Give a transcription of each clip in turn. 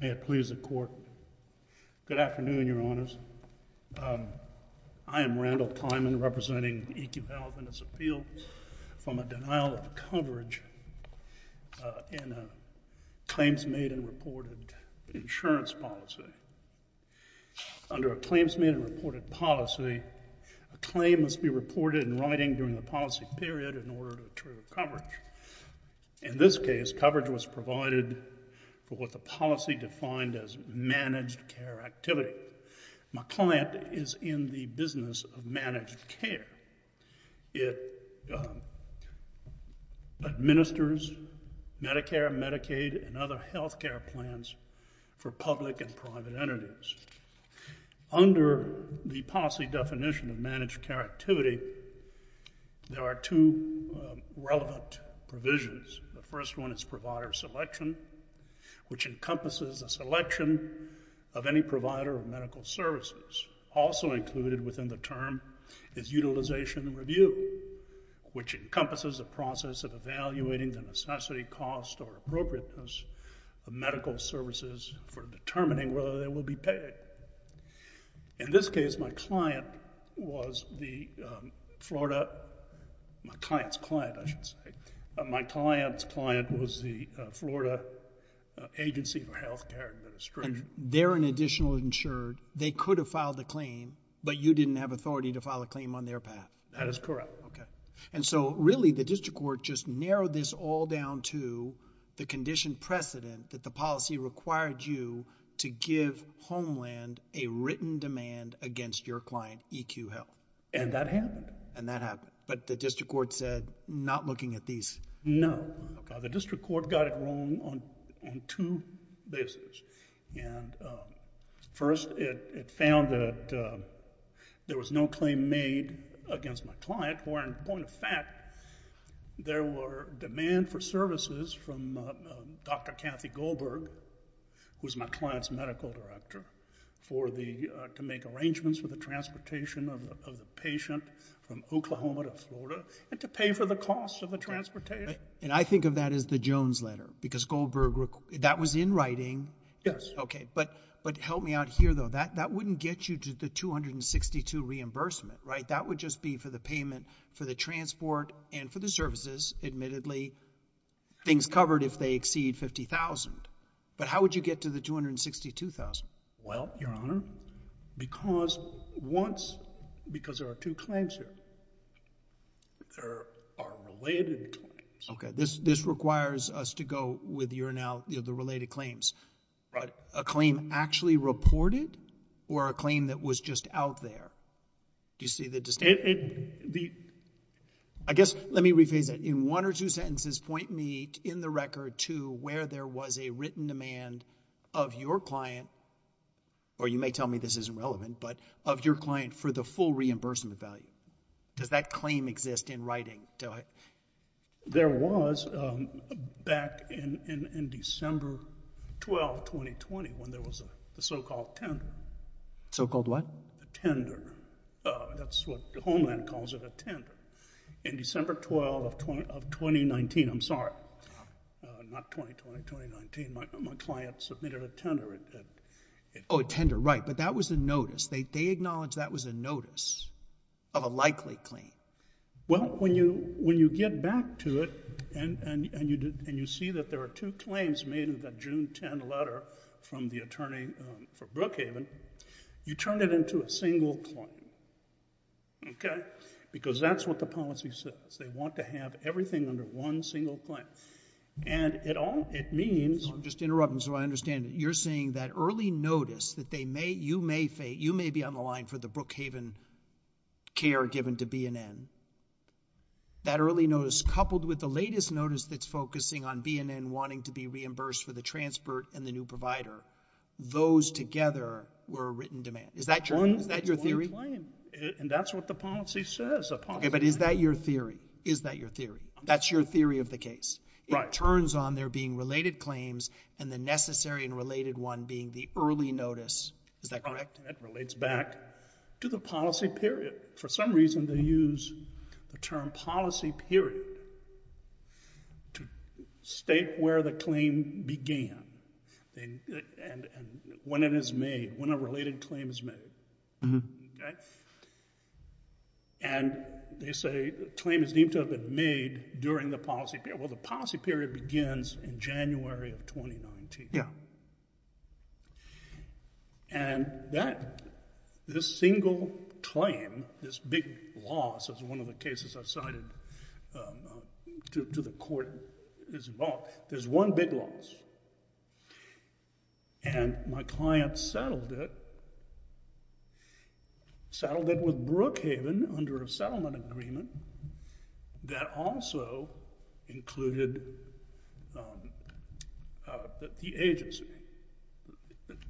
May it please the Court. Good afternoon, Your Honors. I am Randall Kleinman, representing eQHealth and its appeal from a denial of coverage in a claims made and reported insurance policy. Under a claims made and reported policy, a claim must be reported in writing during the policy period in order to attribute coverage. In this case, coverage was provided for what the policy defined as managed care activity. My client is in the business of managed care. It administers Medicare, Medicaid, and other health care plans for public and private entities. Under the policy definition of managed care activity, there are two relevant provisions. The first one is provider selection, which encompasses a selection of any provider of medical services. Also included within the term is utilization review, which encompasses a process of evaluating the necessity, cost, or appropriateness of medical services for In this case, my client was the Florida... my client's client, I should say. My client's client was the Florida agency for health care administration. They're an additional insured. They could have filed the claim, but you didn't have authority to file a claim on their path. That is correct. Okay. And so really, the district court just narrowed this all down to the condition precedent that the policy required you to give Homeland a written demand against your client, EQ Health. And that happened. And that happened. But the district court said, not looking at these. No. The district court got it wrong on two bases. First, it found that there was no claim made against my client, where in point of fact, there were demand for services from Dr. Kathy Goldberg, who's my client's medical director, for the... to make arrangements for the transportation of the patient from Oklahoma to Florida, and to pay for the cost of the transportation. And I think of that as the Jones letter, because Goldberg... that was in writing. Yes. Okay. But help me out here, though. That wouldn't get you to the 262 reimbursement, right? That would just be for the payment for the transport and for the services. Admittedly, things covered if they exceed $50,000. But how would you get to the $262,000? Well, Your Honor, because once... because there are two claims here. There are related claims. Okay. This requires us to go with your now... the related claims. Right. A claim actually reported, or a claim that was just out there? Do you see the distinction? The... I guess, let me rephrase that. In one or two sentences, point me in the record to where there was a written demand of your client, or you may tell me this isn't relevant, but of your client for the full reimbursement value. Does that claim exist in writing? There was, back in December 12, 2020, when there was a so-called tender. So-called what? A tender. That's what Homeland calls it, a tender. In December 12 of 2019, I'm sorry, not 2020, 2019, my client submitted a tender. Oh, a tender. Right. But that was a notice. They acknowledge that was a notice of a likely claim. Well, when you get back to it, and you see that there are two claims made in that June 10 letter from the attorney for Brookhaven, you turn it into a single claim. Okay? Because that's what the policy says. They want to have everything under one single claim. And it all... it means... I'm just interrupting so I understand. You're saying that early notice that they may... you may be on the line for the Brookhaven care given to BNN. That early notice coupled with the latest notice that's focusing on BNN wanting to be reimbursed for the transport and the new provider, those together were a written demand. Is that your theory? And that's what the policy says. Okay, but is that your theory? Is that your theory? That's your theory of the case? It turns on there being related claims and the necessary and related one being the early notice. Is that correct? That relates back to the policy period. For some reason they use the term policy period to state where the claim began and when it is made, when a related claim is made. Okay? And they say the claim is deemed to have been made during the policy period. Well, the policy period begins in January of 2019. Yeah. And this single claim, this big loss is one of the cases I've cited to the court is involved. There's one big loss. And my client settled it. Settled it with Brookhaven under a settlement agreement that also included the agency.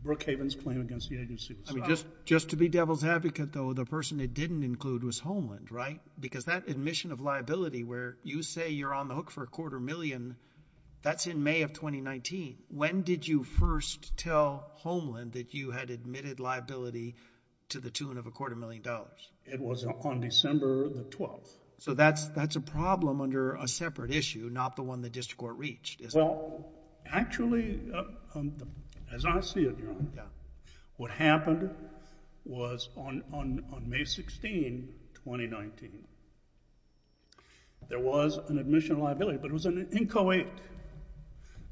Brookhaven's claim against the agency. Just to be devil's advocate though, the person it didn't include was Homeland, right? Because that admission of liability where you say you're on the hook for a quarter million, that's in May of 2019. When did you first tell Homeland that you had admitted liability to the tune of a quarter million dollars? It was on December the 12th. So that's a problem under a separate issue, not the one the district court reached, is it? Well, actually, as I see it, Your Honor, what happened was on May 16, 2019. There was an admission of liability, but it was an inchoate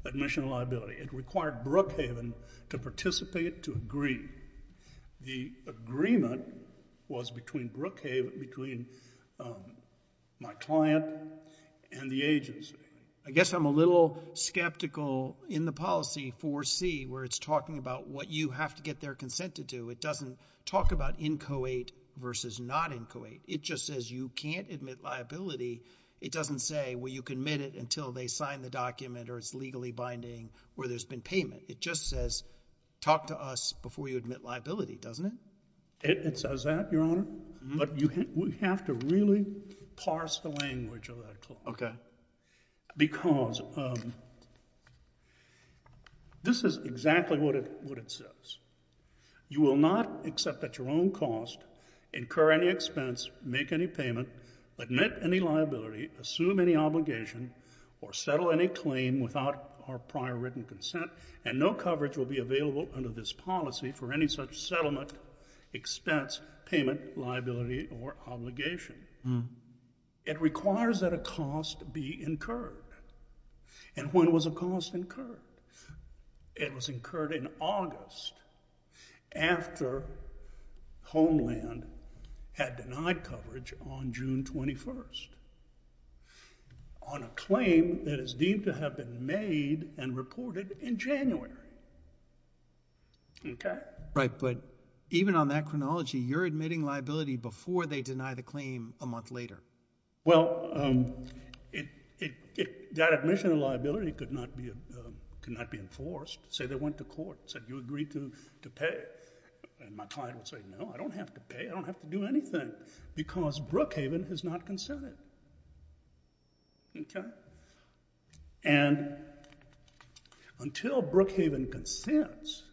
admission of liability. It required Brookhaven to participate to agree. The agreement was between Brookhaven, between my client and the agency. I guess I'm a little skeptical in the policy 4C where it's talking about what you have to get their consent to do. It doesn't talk about inchoate versus not inchoate. It just says you can't admit liability. It doesn't say, well, you can admit it until they sign the document or it's legally binding or there's been payment. It just says talk to us before you admit liability, doesn't it? It says that, Your Honor, but we have to really parse the language of that. Okay. Because this is exactly what it says. You will not accept at your own cost, incur any expense, make any payment, admit any liability, assume any obligation, or settle any claim without our prior written consent, and no coverage will be available under this policy for any such settlement, expense, payment, liability, or obligation. It requires that a cost be incurred. And when was a cost incurred? It was incurred in August after Homeland had denied coverage on June 21st on a claim that is deemed to have been made and reported in January. Okay? Right, but even on that chronology, you're admitting liability before they deny the claim a month later. Well, that admission of liability could not be enforced. Say they went to court and said, you agree to pay? And my client would say, no, I don't have to pay. I don't have to do anything because Brookhaven has not consented. Okay? And until Brookhaven consents,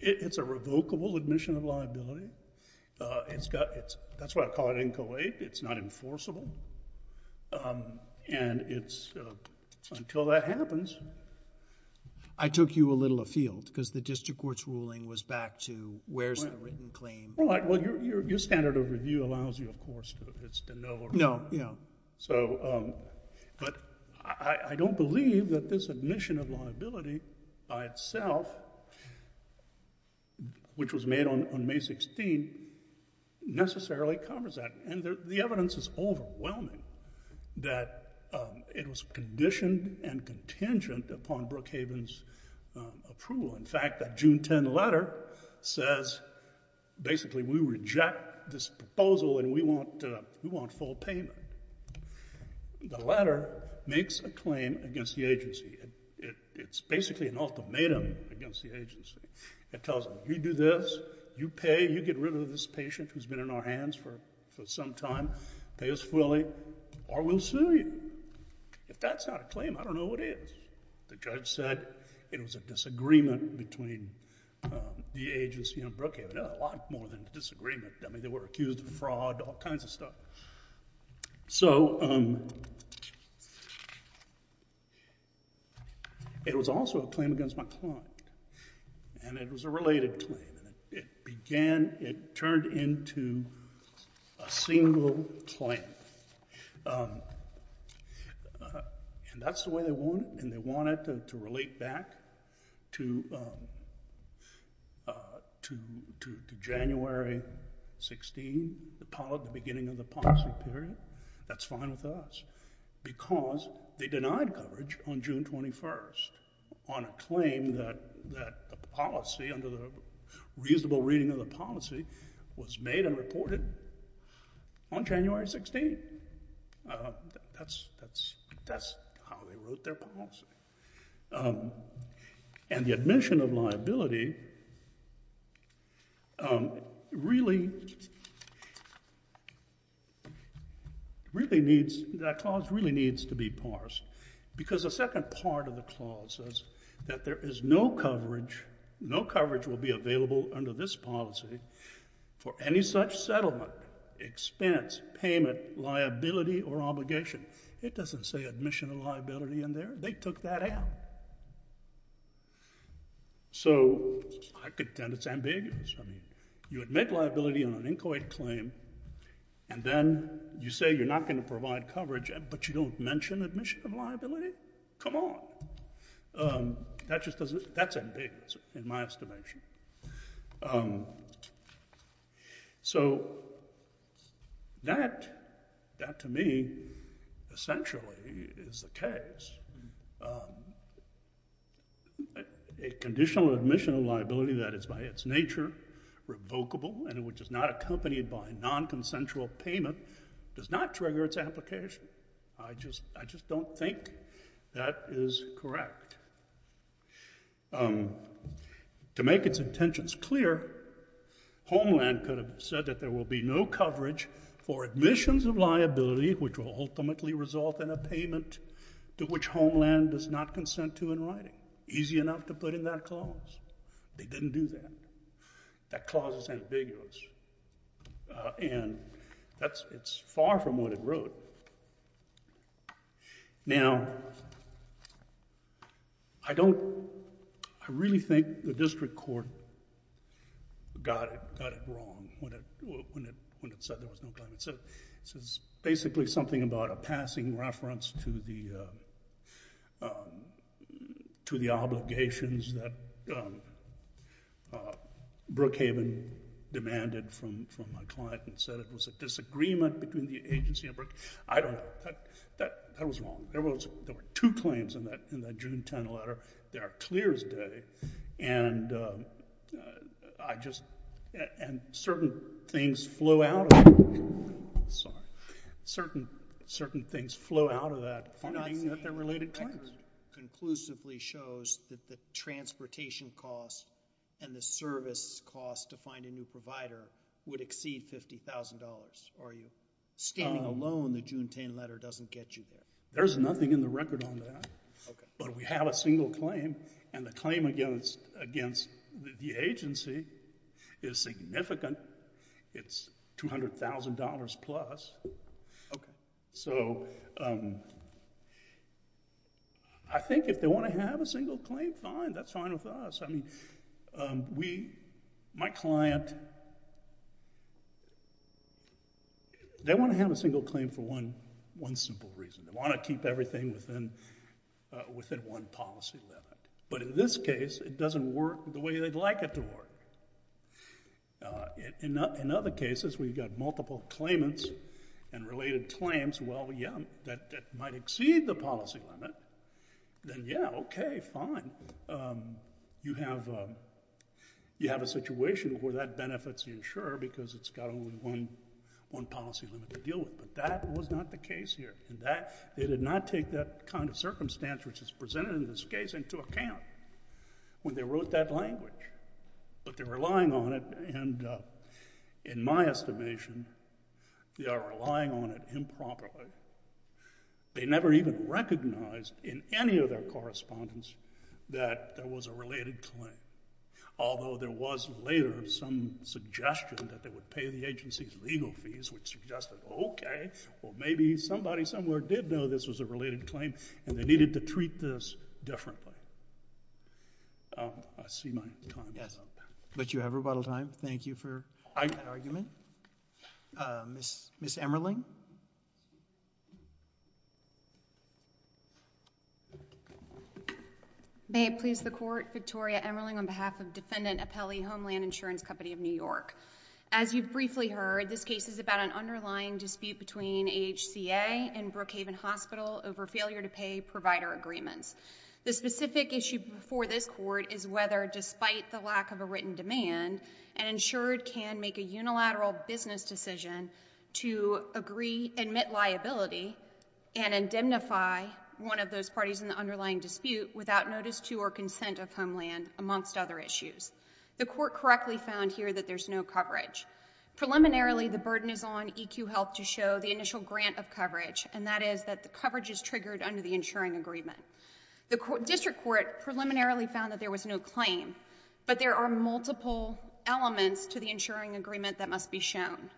it's a revocable admission of liability. That's why I call it NCOA. It's not enforceable. And it's until that happens. I took you a little afield because the district court's ruling was back to where's the written claim? Well, your standard of review allows you, of course, to know. No, no. But I don't believe that this admission of liability by itself, which was made on May 16th, necessarily covers that. And the evidence is overwhelming that it was conditioned and contingent upon Brookhaven's approval. In fact, that June 10 letter says basically we reject this proposal and we want full payment. The letter makes a claim against the agency. It's basically an ultimatum against the agency. It tells them, you do this, you pay, you get rid of this patient who's been in our hands for some time, pay us fully, or we'll sue you. If that's not a claim, I don't know what is. The judge said it was a disagreement between the agency and Brookhaven. A lot more than a disagreement. I mean, they were accused of fraud, all kinds of stuff. So it was also a claim against my client. And it was a related claim. It began, it turned into a single claim. And that's the way they want it. And they want it to relate back to January 16, the beginning of the policy period. That's fine with us. Because they denied coverage on June 21 on a claim that the policy, under the reasonable reading of the policy, was made and reported on January 16. That's how they wrote their policy. And the admission of liability really needs, that clause really needs to be parsed. Because the second part of the clause says that there is no coverage, no coverage will be available under this policy for any such settlement, expense, payment, liability, or obligation. It doesn't say admission of liability in there. They took that out. So I contend it's ambiguous. I mean, you admit liability on an inchoate claim, and then you say you're not going to provide coverage, but you don't mention admission of liability? Come on. That just doesn't, that's ambiguous in my estimation. So that, to me, essentially is the case. A conditional admission of liability that is by its nature revocable and which is not accompanied by non-consensual payment does not trigger its application. I just don't think that is correct. To make its intentions clear, Homeland could have said that there will be no coverage for admissions of liability which will ultimately result in a payment to which Homeland does not consent to in writing. Easy enough to put in that clause. They didn't do that. That clause is ambiguous. And that's, it's far from what it wrote. Now, I don't, I really think the district court got it wrong when it said there was no claim. to the obligations that Brookhaven demanded from my client and said it was a disagreement between the agency and Brookhaven. I don't, that was wrong. There were two claims in that June 10 letter. They are clear as day. And I just, and certain things flow out of that. Sorry. Certain things flow out of that. You're not saying the record conclusively shows that the transportation costs and the service costs to find a new provider would exceed $50,000, are you? Standing alone, the June 10 letter doesn't get you there. There's nothing in the record on that. Okay. But we have a single claim, and the claim against the agency is significant. It's $200,000 plus. Okay. So I think if they want to have a single claim, fine. That's fine with us. I mean, we, my client, they want to have a single claim for one simple reason. They want to keep everything within one policy limit. But in this case, it doesn't work the way they'd like it to work. In other cases where you've got multiple claimants and related claims, well, yeah, that might exceed the policy limit. Then, yeah, okay, fine. You have a situation where that benefits the insurer because it's got only one policy limit to deal with. But that was not the case here. They did not take that kind of circumstance which is presented in this case into account when they wrote that language. But they're relying on it, and in my estimation, they are relying on it improperly. They never even recognized in any of their correspondence that there was a related claim, although there was later some suggestion that they would pay the agency's legal fees, which suggested, okay, well, maybe somebody somewhere did know this was a related claim, and they needed to treat this differently. I see my time is up. But you have rebuttal time. Thank you for that argument. Ms. Emmerling? May it please the Court, Victoria Emmerling on behalf of Defendant Apelli Homeland Insurance Company of New York. As you've briefly heard, this case is about an underlying dispute between AHCA and Brookhaven Hospital over failure to pay provider agreements. The specific issue before this Court is whether, despite the lack of a written demand, an insured can make a unilateral business decision to admit liability and indemnify one of those parties in the underlying dispute without notice to or consent of Homeland, amongst other issues. The Court correctly found here that there's no coverage. Preliminarily, the burden is on EQ Health to show the initial grant of coverage, and that is that the coverage is triggered under the insuring agreement. The District Court preliminarily found that there was no claim, but there are multiple elements to the insuring agreement that must be shown.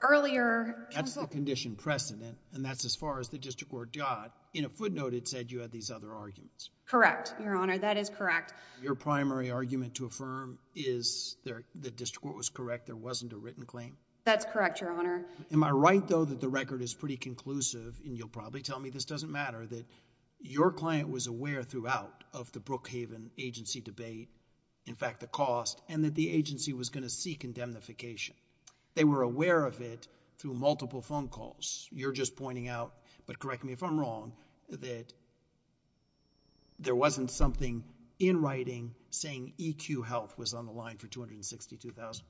That's the condition precedent, and that's as far as the District Court got. In a footnote, it said you had these other arguments. Correct, Your Honor. That is correct. Your primary argument to affirm is that the District Court was correct, there wasn't a written claim? That's correct, Your Honor. Am I right, though, that the record is pretty conclusive, and you'll probably tell me this doesn't matter, that your client was aware throughout of the Brookhaven agency debate, in fact, the cost, and that the agency was going to seek indemnification? They were aware of it through multiple phone calls. You're just pointing out, but correct me if I'm wrong, that there wasn't something in writing saying EQ Health was on the line for $262,000?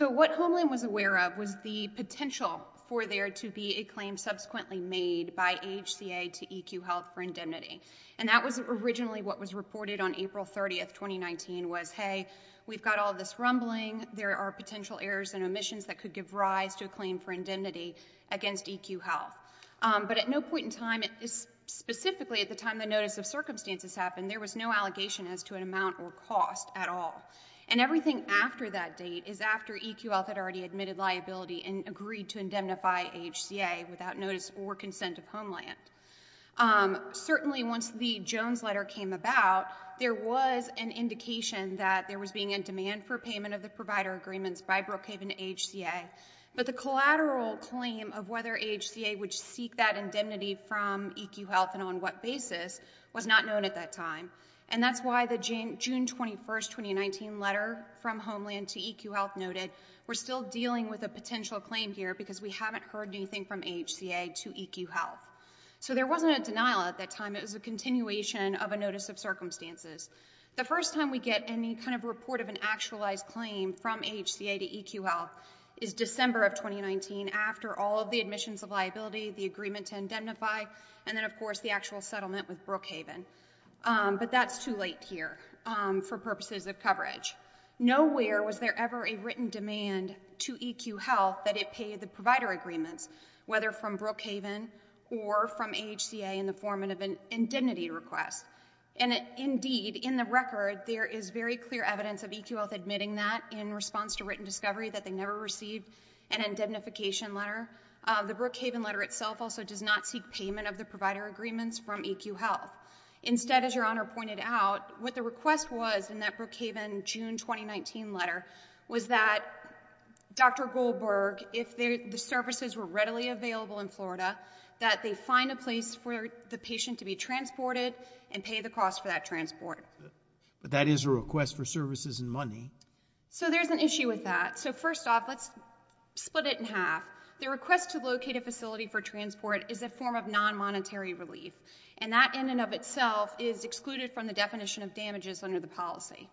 What Homeland was aware of was the potential for there to be a claim subsequently made by HCA to EQ Health for indemnity. That was originally what was reported on April 30, 2019, was, hey, we've got all this rumbling. There are potential errors and omissions that could give rise to a claim for indemnity against EQ Health. But at no point in time, specifically at the time the notice of circumstances happened, there was no allegation as to an amount or cost at all. And everything after that date is after EQ Health had already admitted liability and agreed to indemnify HCA without notice or consent of Homeland. Certainly, once the Jones letter came about, there was an indication that there was being a demand for payment of the provider agreements by Brookhaven HCA. But the collateral claim of whether HCA would seek that indemnity from EQ Health and on what basis was not known at that time. And that's why the June 21, 2019 letter from Homeland to EQ Health noted we're still dealing with a potential claim here because we haven't heard anything from HCA to EQ Health. So there wasn't a denial at that time. It was a continuation of a notice of circumstances. The first time we get any kind of report of an actualized claim from HCA to EQ Health is December of 2019 after all of the admissions of liability, the agreement to indemnify, and then, of course, the actual settlement with Brookhaven. But that's too late here for purposes of coverage. Nowhere was there ever a written demand to EQ Health that it pay the provider agreements, whether from Brookhaven or from HCA in the form of an indemnity request. And indeed, in the record, there is very clear evidence of EQ Health admitting that in response to written discovery that they never received an indemnification letter. The Brookhaven letter itself also does not seek payment of the provider agreements from EQ Health. Instead, as Your Honor pointed out, what the request was in that Brookhaven June 2019 letter was that Dr. Goldberg, if the services were readily available in Florida, that they find a place for the patient to be transported and pay the cost for that transport. But that is a request for services and money. So there's an issue with that. So first off, let's split it in half. The request to locate a facility for transport is a form of non-monetary relief, and that in and of itself is excluded from the definition of damages under the policy.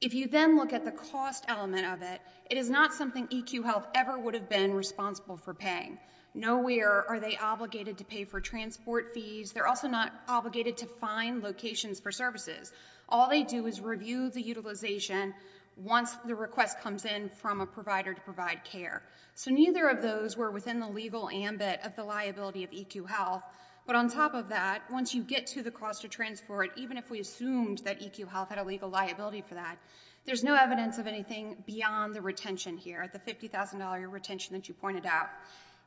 If you then look at the cost element of it, it is not something EQ Health ever would have been responsible for paying. Nowhere are they obligated to pay for transport fees. They're also not obligated to find locations for services. All they do is review the utilization once the request comes in from a provider to provide care. So neither of those were within the legal ambit of the liability of EQ Health. But on top of that, once you get to the cost of transport, even if we assumed that EQ Health had a legal liability for that, there's no evidence of anything beyond the retention here, the $50,000 retention that you pointed out.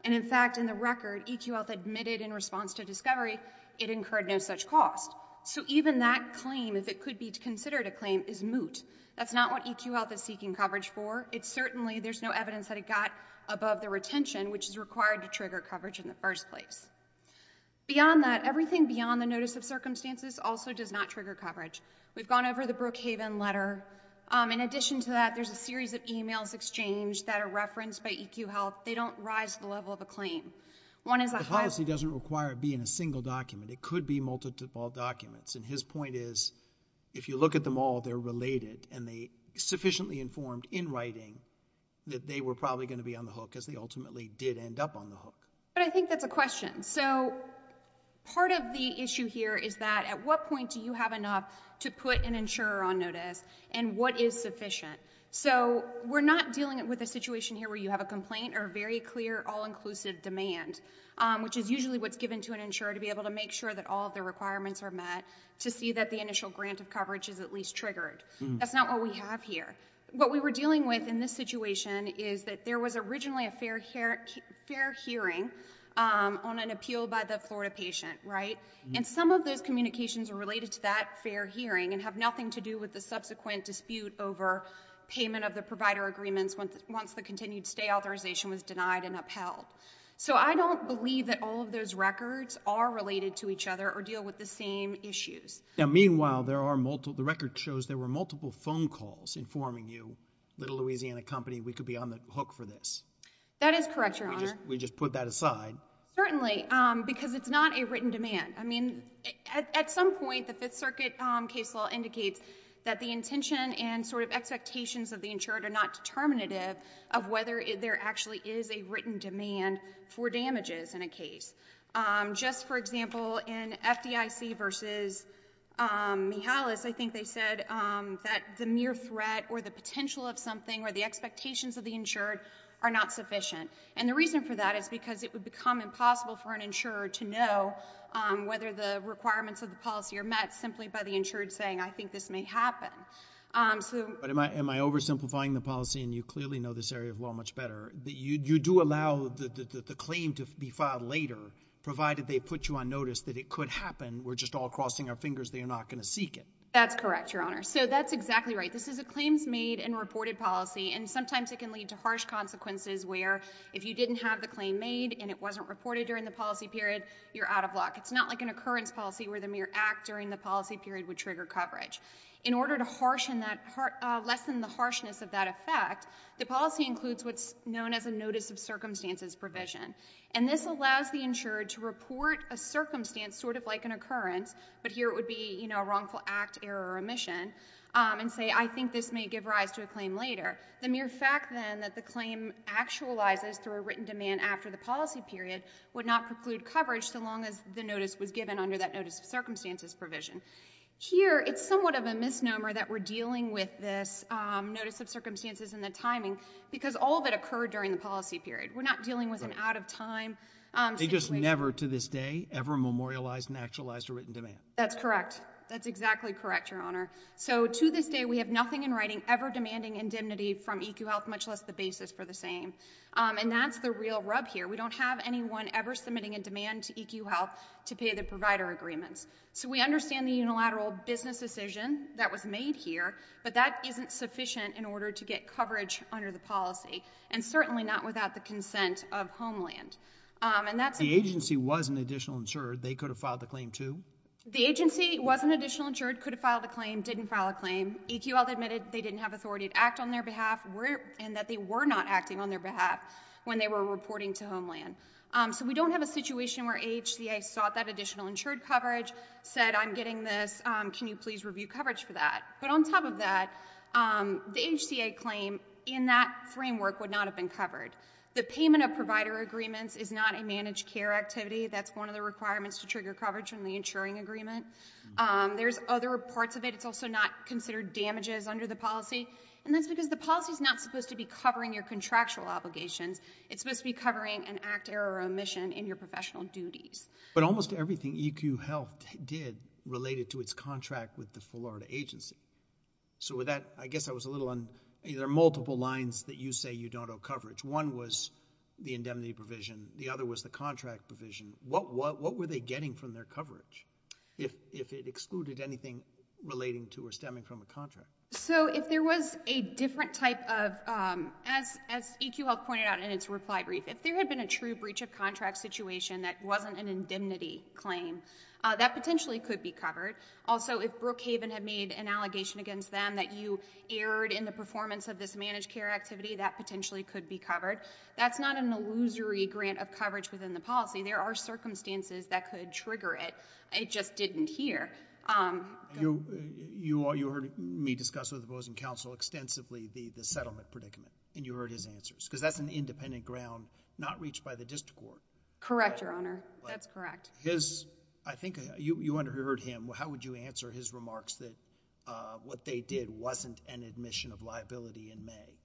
And in fact, in the record, EQ Health admitted in response to discovery it incurred no such cost. So even that claim, if it could be considered a claim, is moot. That's not what EQ Health is seeking coverage for. Certainly there's no evidence that it got above the retention, which is required to trigger coverage in the first place. Beyond that, everything beyond the notice of circumstances also does not trigger coverage. We've gone over the Brookhaven letter. In addition to that, there's a series of e-mails exchanged that are referenced by EQ Health. They don't rise to the level of a claim. The policy doesn't require it being a single document. It could be multiple documents. And his point is, if you look at them all, they're related, and they sufficiently informed in writing that they were probably going to be on the hook, as they ultimately did end up on the hook. But I think that's a question. So part of the issue here is that at what point do you have enough to put an insurer on notice, and what is sufficient? So we're not dealing with a situation here where you have a complaint or a very clear, all-inclusive demand, which is usually what's given to an insurer to be able to make sure that all of their requirements are met to see that the initial grant of coverage is at least triggered. That's not what we have here. What we were dealing with in this situation is that there was originally a fair hearing on an appeal by the Florida patient, right? And some of those communications are related to that fair hearing and have nothing to do with the subsequent dispute over payment of the provider agreements once the continued stay authorization was denied and upheld. So I don't believe that all of those records are related to each other or deal with the same issues. Now, meanwhile, the record shows there were multiple phone calls informing you, Little Louisiana Company, we could be on the hook for this. That is correct, Your Honor. We just put that aside. Certainly, because it's not a written demand. I mean, at some point, the Fifth Circuit case law indicates that the intention and sort of expectations of the insurer are not determinative of whether there actually is a written demand for damages in a case. Just for example, in FDIC versus Mihalis, I think they said that the mere threat or the potential of something or the expectations of the insured are not sufficient. And the reason for that is because it would become impossible for an insurer to know whether the requirements of the policy are met simply by the insured saying, I think this may happen. But am I oversimplifying the policy? And you clearly know this area of law much better. You do allow the claim to be filed later, provided they put you on notice that it could happen. We're just all crossing our fingers they are not going to seek it. That's correct, Your Honor. So that's exactly right. This is a claims made and reported policy, and sometimes it can lead to harsh consequences where if you didn't have the claim made and it wasn't reported during the policy period, you're out of luck. It's not like an occurrence policy where the mere act during the policy period would trigger coverage. In order to lessen the harshness of that effect, the policy includes what's known as a notice of circumstances provision. And this allows the insured to report a circumstance sort of like an occurrence, but here it would be a wrongful act, error, or omission, and say I think this may give rise to a claim later. The mere fact then that the claim actualizes through a written demand after the policy period would not preclude coverage so long as the notice was given under that notice of circumstances provision. Here it's somewhat of a misnomer that we're dealing with this notice of circumstances and the timing because all of it occurred during the policy period. We're not dealing with an out of time situation. They just never to this day ever memorialized and actualized a written demand. That's correct. That's exactly correct, Your Honor. So to this day we have nothing in writing ever demanding indemnity from EQ Health, much less the basis for the same. And that's the real rub here. We don't have anyone ever submitting a demand to EQ Health to pay the provider agreements. So we understand the unilateral business decision that was made here, but that isn't sufficient in order to get coverage under the policy, and certainly not without the consent of Homeland. The agency was an additional insured. They could have filed the claim too. The agency was an additional insured, could have filed a claim, didn't file a claim. EQ Health admitted they didn't have authority to act on their behalf So we don't have a situation where AHCA sought that additional insured coverage, said I'm getting this, can you please review coverage for that. But on top of that, the HCA claim in that framework would not have been covered. The payment of provider agreements is not a managed care activity. That's one of the requirements to trigger coverage from the insuring agreement. There's other parts of it. It's also not considered damages under the policy, and that's because the policy is not supposed to be covering your contractual obligations. It's supposed to be covering an act, error, or omission in your professional duties. But almost everything EQ Health did related to its contract with the Florida agency. So with that, I guess I was a little on either multiple lines that you say you don't owe coverage. One was the indemnity provision. The other was the contract provision. What were they getting from their coverage, if it excluded anything relating to or stemming from a contract? So if there was a different type of, as EQ Health pointed out in its reply brief, if there had been a true breach of contract situation that wasn't an indemnity claim, that potentially could be covered. Also, if Brookhaven had made an allegation against them that you erred in the performance of this managed care activity, that potentially could be covered. That's not an illusory grant of coverage within the policy. There are circumstances that could trigger it. It just didn't here. You heard me discuss with opposing counsel extensively the settlement predicament, and you heard his answers. Because that's an independent ground not reached by the district court. Correct, Your Honor. That's correct. I think you underheard him. How would you answer his remarks that what they did wasn't an admission of liability in May?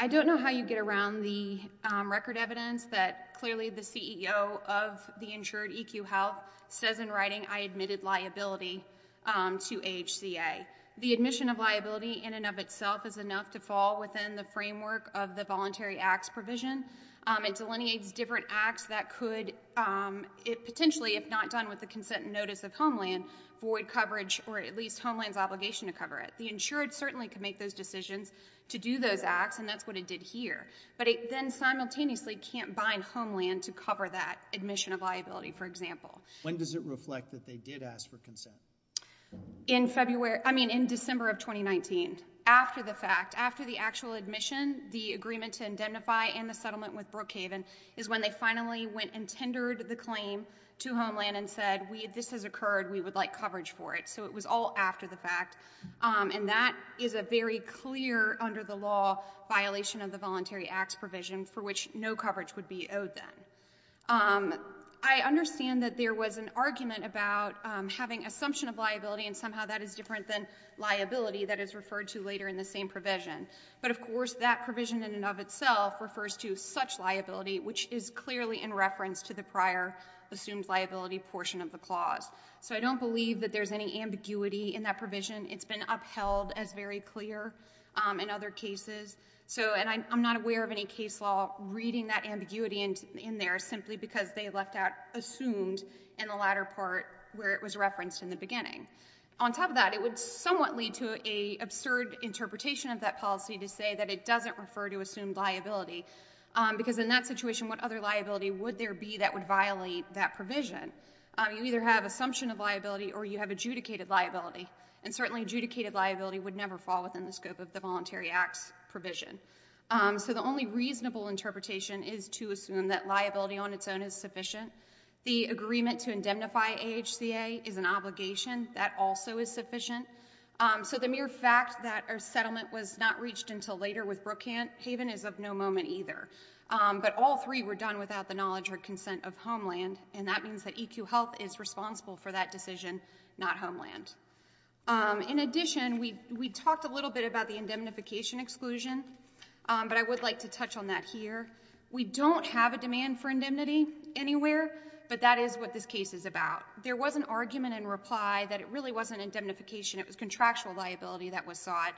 I don't know how you get around the record evidence that clearly the CEO of the insured EQ Health says in writing, I admitted liability to AHCA. The admission of liability in and of itself is enough to fall within the framework of the voluntary acts provision. It delineates different acts that could potentially, if not done with the consent and notice of Homeland, void coverage or at least Homeland's obligation to cover it. The insured certainly could make those decisions to do those acts, and that's what it did here. But it then simultaneously can't bind Homeland to cover that admission of liability, for example. When does it reflect that they did ask for consent? In February, I mean in December of 2019. After the fact, after the actual admission, the agreement to indemnify and the settlement with Brookhaven is when they finally went and tendered the claim to Homeland and said, this has occurred, we would like coverage for it. So it was all after the fact. And that is a very clear, under the law, violation of the voluntary acts provision for which no coverage would be owed then. I understand that there was an argument about having assumption of liability and somehow that is different than liability that is referred to later in the same provision. But of course, that provision in and of itself refers to such liability, which is clearly in reference to the prior assumed liability portion of the clause. So I don't believe that there's any ambiguity in that provision. It's been upheld as very clear in other cases. And I'm not aware of any case law reading that ambiguity in there simply because they left out assumed in the latter part where it was referenced in the beginning. On top of that, it would somewhat lead to an absurd interpretation of that policy to say that it doesn't refer to assumed liability. Because in that situation, what other liability would there be that would violate that provision? You either have assumption of liability or you have adjudicated liability. And certainly adjudicated liability would never fall within the scope of the voluntary acts provision. So the only reasonable interpretation is to assume that liability on its own is sufficient. The agreement to indemnify AHCA is an obligation. That also is sufficient. So the mere fact that our settlement was not reached until later with Brookhaven is of no moment either. But all three were done without the knowledge or consent of Homeland. And that means that EQ Health is responsible for that decision, not Homeland. In addition, we talked a little bit about the indemnification exclusion. But I would like to touch on that here. We don't have a demand for indemnity anywhere, but that is what this case is about. There was an argument in reply that it really wasn't indemnification. It was contractual liability that was sought.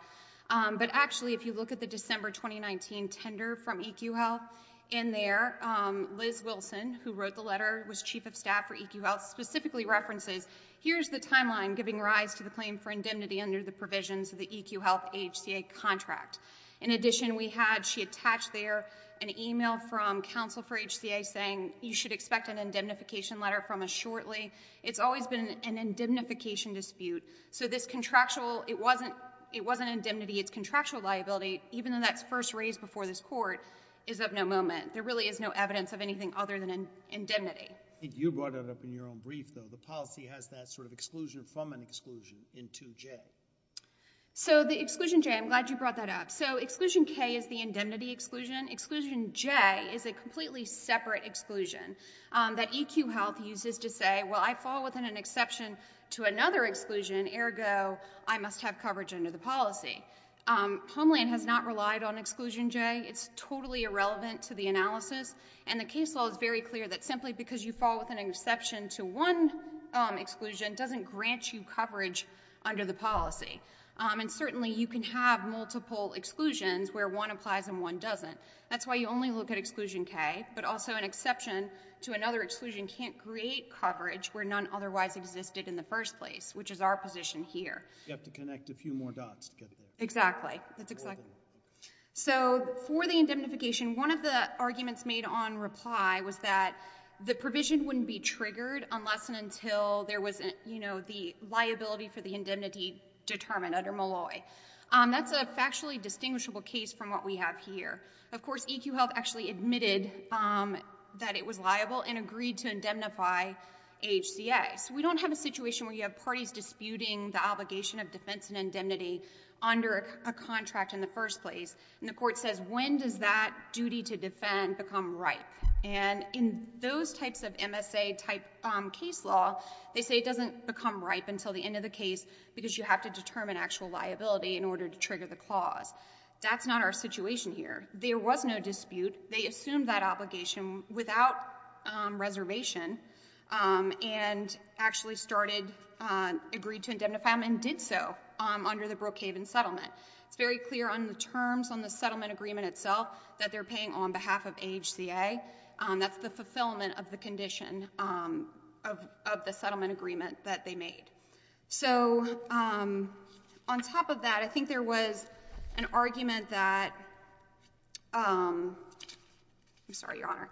But actually, if you look at the December 2019 tender from EQ Health, in there, Liz Wilson, who wrote the letter, was Chief of Staff for EQ Health, specifically references, here's the timeline giving rise to the claim for indemnity under the provisions of the EQ Health AHCA contract. In addition, we had, she attached there, an email from counsel for AHCA saying, you should expect an indemnification letter from us shortly. It's always been an indemnification dispute. So this contractual, it wasn't indemnity, it's contractual liability, even though that's first raised before this court, is of no moment. There really is no evidence of anything other than indemnity. You brought it up in your own brief, though. The policy has that sort of exclusion from an exclusion in 2J. So the exclusion J, I'm glad you brought that up. So exclusion K is the indemnity exclusion. Exclusion J is a completely separate exclusion that EQ Health uses to say, well, I fall within an exception to another exclusion, ergo, I must have coverage under the policy. Homeland has not relied on exclusion J. It's totally irrelevant to the analysis. And the case law is very clear that simply because you fall within an exception to one exclusion doesn't grant you coverage under the policy. And certainly you can have multiple exclusions where one applies and one doesn't. That's why you only look at exclusion K, but also an exception to another exclusion can't create coverage where none otherwise existed in the first place, which is our position here. You have to connect a few more dots to get there. Exactly. So for the indemnification, one of the arguments made on reply was that the provision wouldn't be triggered unless and until there was the liability for the indemnity determined under Malloy. That's a factually distinguishable case from what we have here. Of course, EQ Health actually admitted that it was liable and agreed to indemnify HCA. We don't have a situation where you have parties disputing the obligation of defense and indemnity under a contract in the first place. And the court says, when does that duty to defend become ripe? And in those types of MSA type case law, they say it doesn't become ripe until the end of the case because you have to determine actual liability in order to trigger the clause. That's not our situation here. There was no dispute. They assumed that obligation without reservation. And actually started, agreed to indemnify them and did so under the Brookhaven settlement. It's very clear on the terms on the settlement agreement itself that they're paying on behalf of HCA. That's the fulfillment of the condition of the settlement agreement that they made. So on top of that, I think there was an argument that... I'm sorry, Your Honor.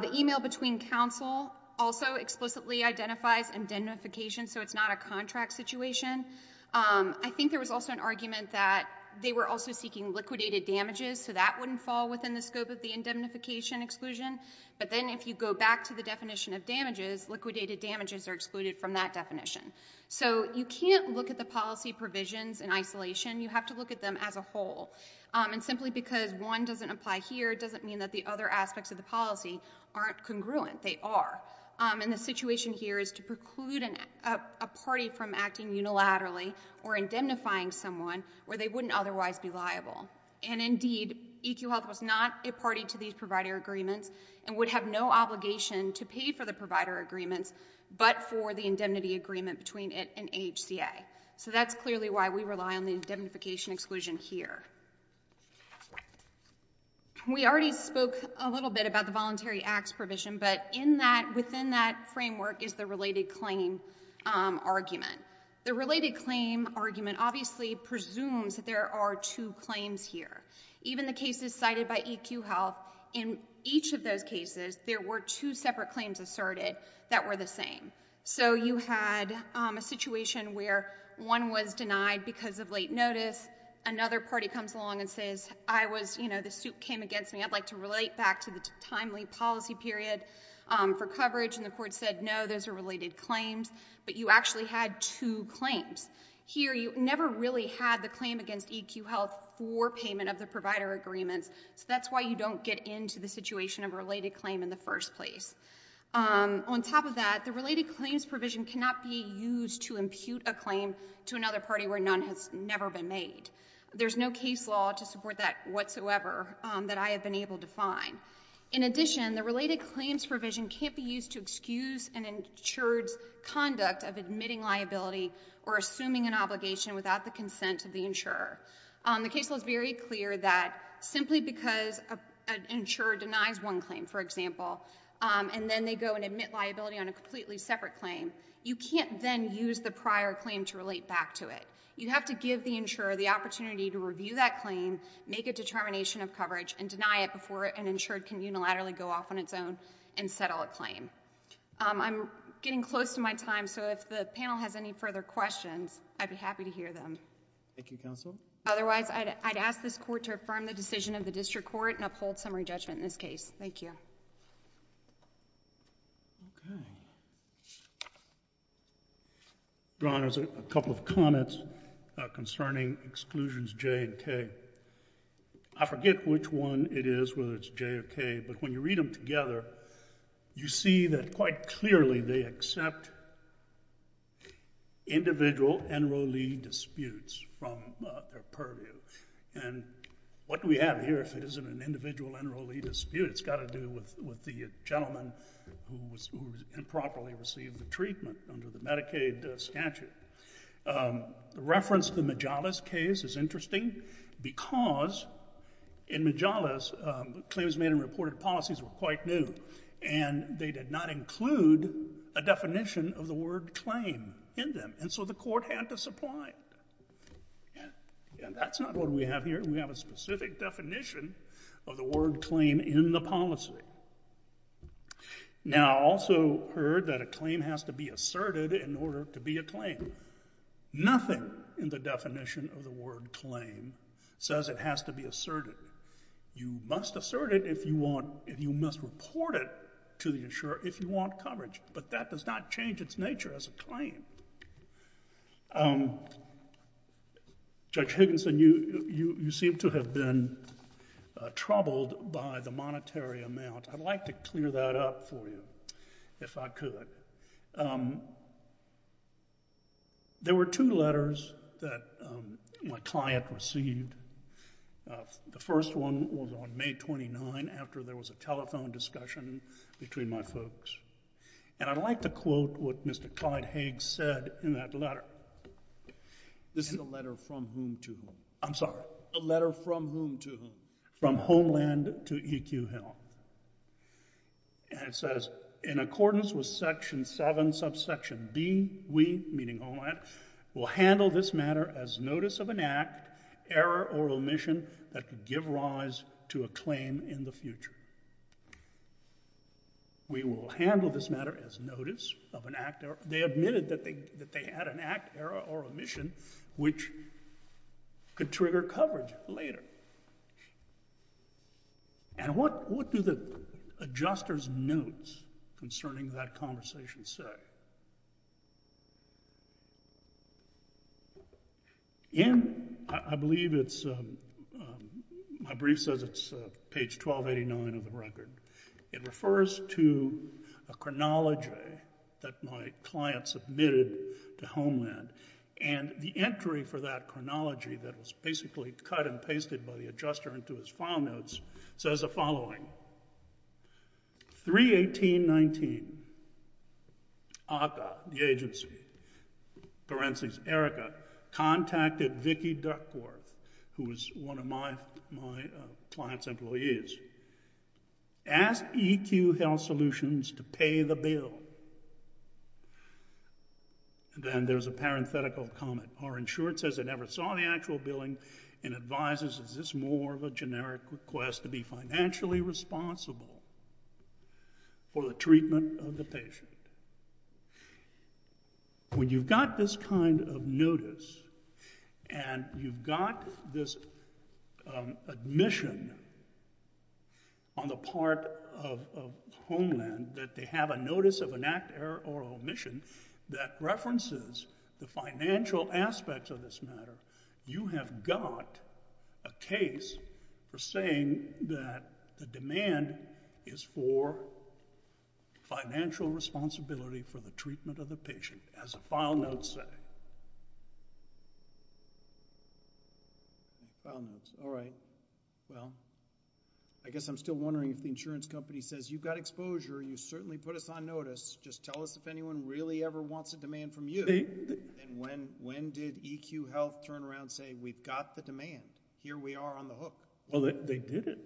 The email between counsel also explicitly identifies indemnification so it's not a contract situation. I think there was also an argument that they were also seeking liquidated damages so that wouldn't fall within the scope of the indemnification exclusion. But then if you go back to the definition of damages, liquidated damages are excluded from that definition. So you can't look at the policy provisions in isolation. You have to look at them as a whole. And simply because one doesn't apply here doesn't mean that the other aspects of the policy aren't congruent. They are. And the situation here is to preclude a party from acting unilaterally or indemnifying someone where they wouldn't otherwise be liable. And indeed, EQ Health was not a party to these provider agreements and would have no obligation to pay for the provider agreements but for the indemnity agreement between it and HCA. So that's clearly why we rely on the indemnification exclusion here. We already spoke a little bit about the voluntary acts provision but within that framework is the related claim argument. The related claim argument obviously presumes that there are two claims here. Even the cases cited by EQ Health, in each of those cases there were two separate claims asserted that were the same. So you had a situation where one was denied because of late notice, another party comes along and says, I was, you know, the suit came against me, I'd like to relate back to the timely policy period for coverage. And the court said, no, those are related claims. But you actually had two claims. Here you never really had the claim against EQ Health for payment of the provider agreements. So that's why you don't get into the situation of a related claim in the first place. On top of that, the related claims provision cannot be used to impute a claim to another party where none has never been made. There's no case law to support that whatsoever that I have been able to find. In addition, the related claims provision can't be used to excuse an insured's conduct of admitting liability or assuming an obligation without the consent of the insurer. The case law is very clear that simply because an insurer denies one claim, for example, and then they go and admit liability on a completely separate claim, you can't then use the prior claim to relate back to it. You have to give the insurer the opportunity to review that claim, make a determination of coverage, and deny it before an insured can unilaterally go off on its own and settle a claim. I'm getting close to my time, so if the panel has any further questions, I'd be happy to hear them. Thank you, counsel. Otherwise, I'd ask this court to affirm the decision of the district court and uphold summary judgment in this case. Thank you. Okay. Ron, there's a couple of comments concerning Exclusions J and K. I forget which one it is, whether it's J or K, but when you read them together, you see that quite clearly they accept individual enrollee disputes from their purview. And what do we have here if it isn't an individual enrollee dispute? It's got to do with the gentleman who improperly received the treatment under the Medicaid statute. The reference to the Majalis case is interesting because in Majalis, claims made in reported policies were quite new, and they did not include a definition of the word claim in them, and so the court had to supply it. And that's not what we have here. We have a specific definition of the word claim in the policy. Now, I also heard that a claim has to be asserted in order to be a claim. Nothing in the definition of the word claim says it has to be asserted. You must assert it if you want... You must report it to the insurer if you want coverage, but that does not change its nature as a claim. Um... Judge Higginson, you seem to have been troubled by the monetary amount. I'd like to clear that up for you, if I could. There were two letters that my client received. The first one was on May 29, after there was a telephone discussion between my folks. And I'd like to quote what Mr. Clyde Higgs said in that letter. This is a letter from whom to whom? I'm sorry? A letter from whom to whom? From Homeland to EQ Hill. And it says, in accordance with Section 7, subsection B, we, meaning Homeland, will handle this matter as notice of an act, error or omission, that could give rise to a claim in the future. We will handle this matter as notice of an act... They admitted that they had an act, error or omission which could trigger coverage later. And what do the adjuster's notes concerning that conversation say? In, I believe it's... My brief says it's page 1289 of the record. It refers to a chronology that my client submitted to Homeland. And the entry for that chronology that was basically cut and pasted by the adjuster into his file notes says the following. 3-18-19. ACCA, the agency, for instance, Erica, contacted Vicky Duckworth, who was one of my client's employees. Ask EQ Health Solutions to pay the bill. Then there's a parenthetical comment. Our insurer says they never saw the actual billing and advises it's just more of a generic request to be financially responsible for the treatment of the patient. When you've got this kind of notice and you've got this admission on the part of Homeland that they have a notice of an act, error or omission that references the financial aspects of this matter, you have got a case for saying that the demand is for financial responsibility for the treatment of the patient, as the file notes say. File notes. All right. Well, I guess I'm still wondering if the insurance company says, You've got exposure. You certainly put us on notice. Just tell us if anyone really ever wants a demand from you. And when did EQ Health turn around and say, We've got the demand. Here we are on the hook. Well, they did it.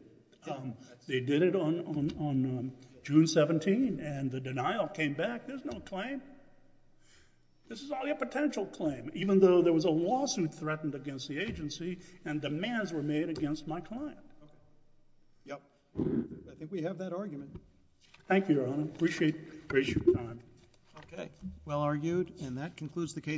They did it on June 17, and the denial came back. There's no claim. This is only a potential claim, even though there was a lawsuit threatened against the agency and demands were made against my client. Yep. I think we have that argument. Thank you, Your Honor. Appreciate your time. Okay. Well argued. And that concludes the case.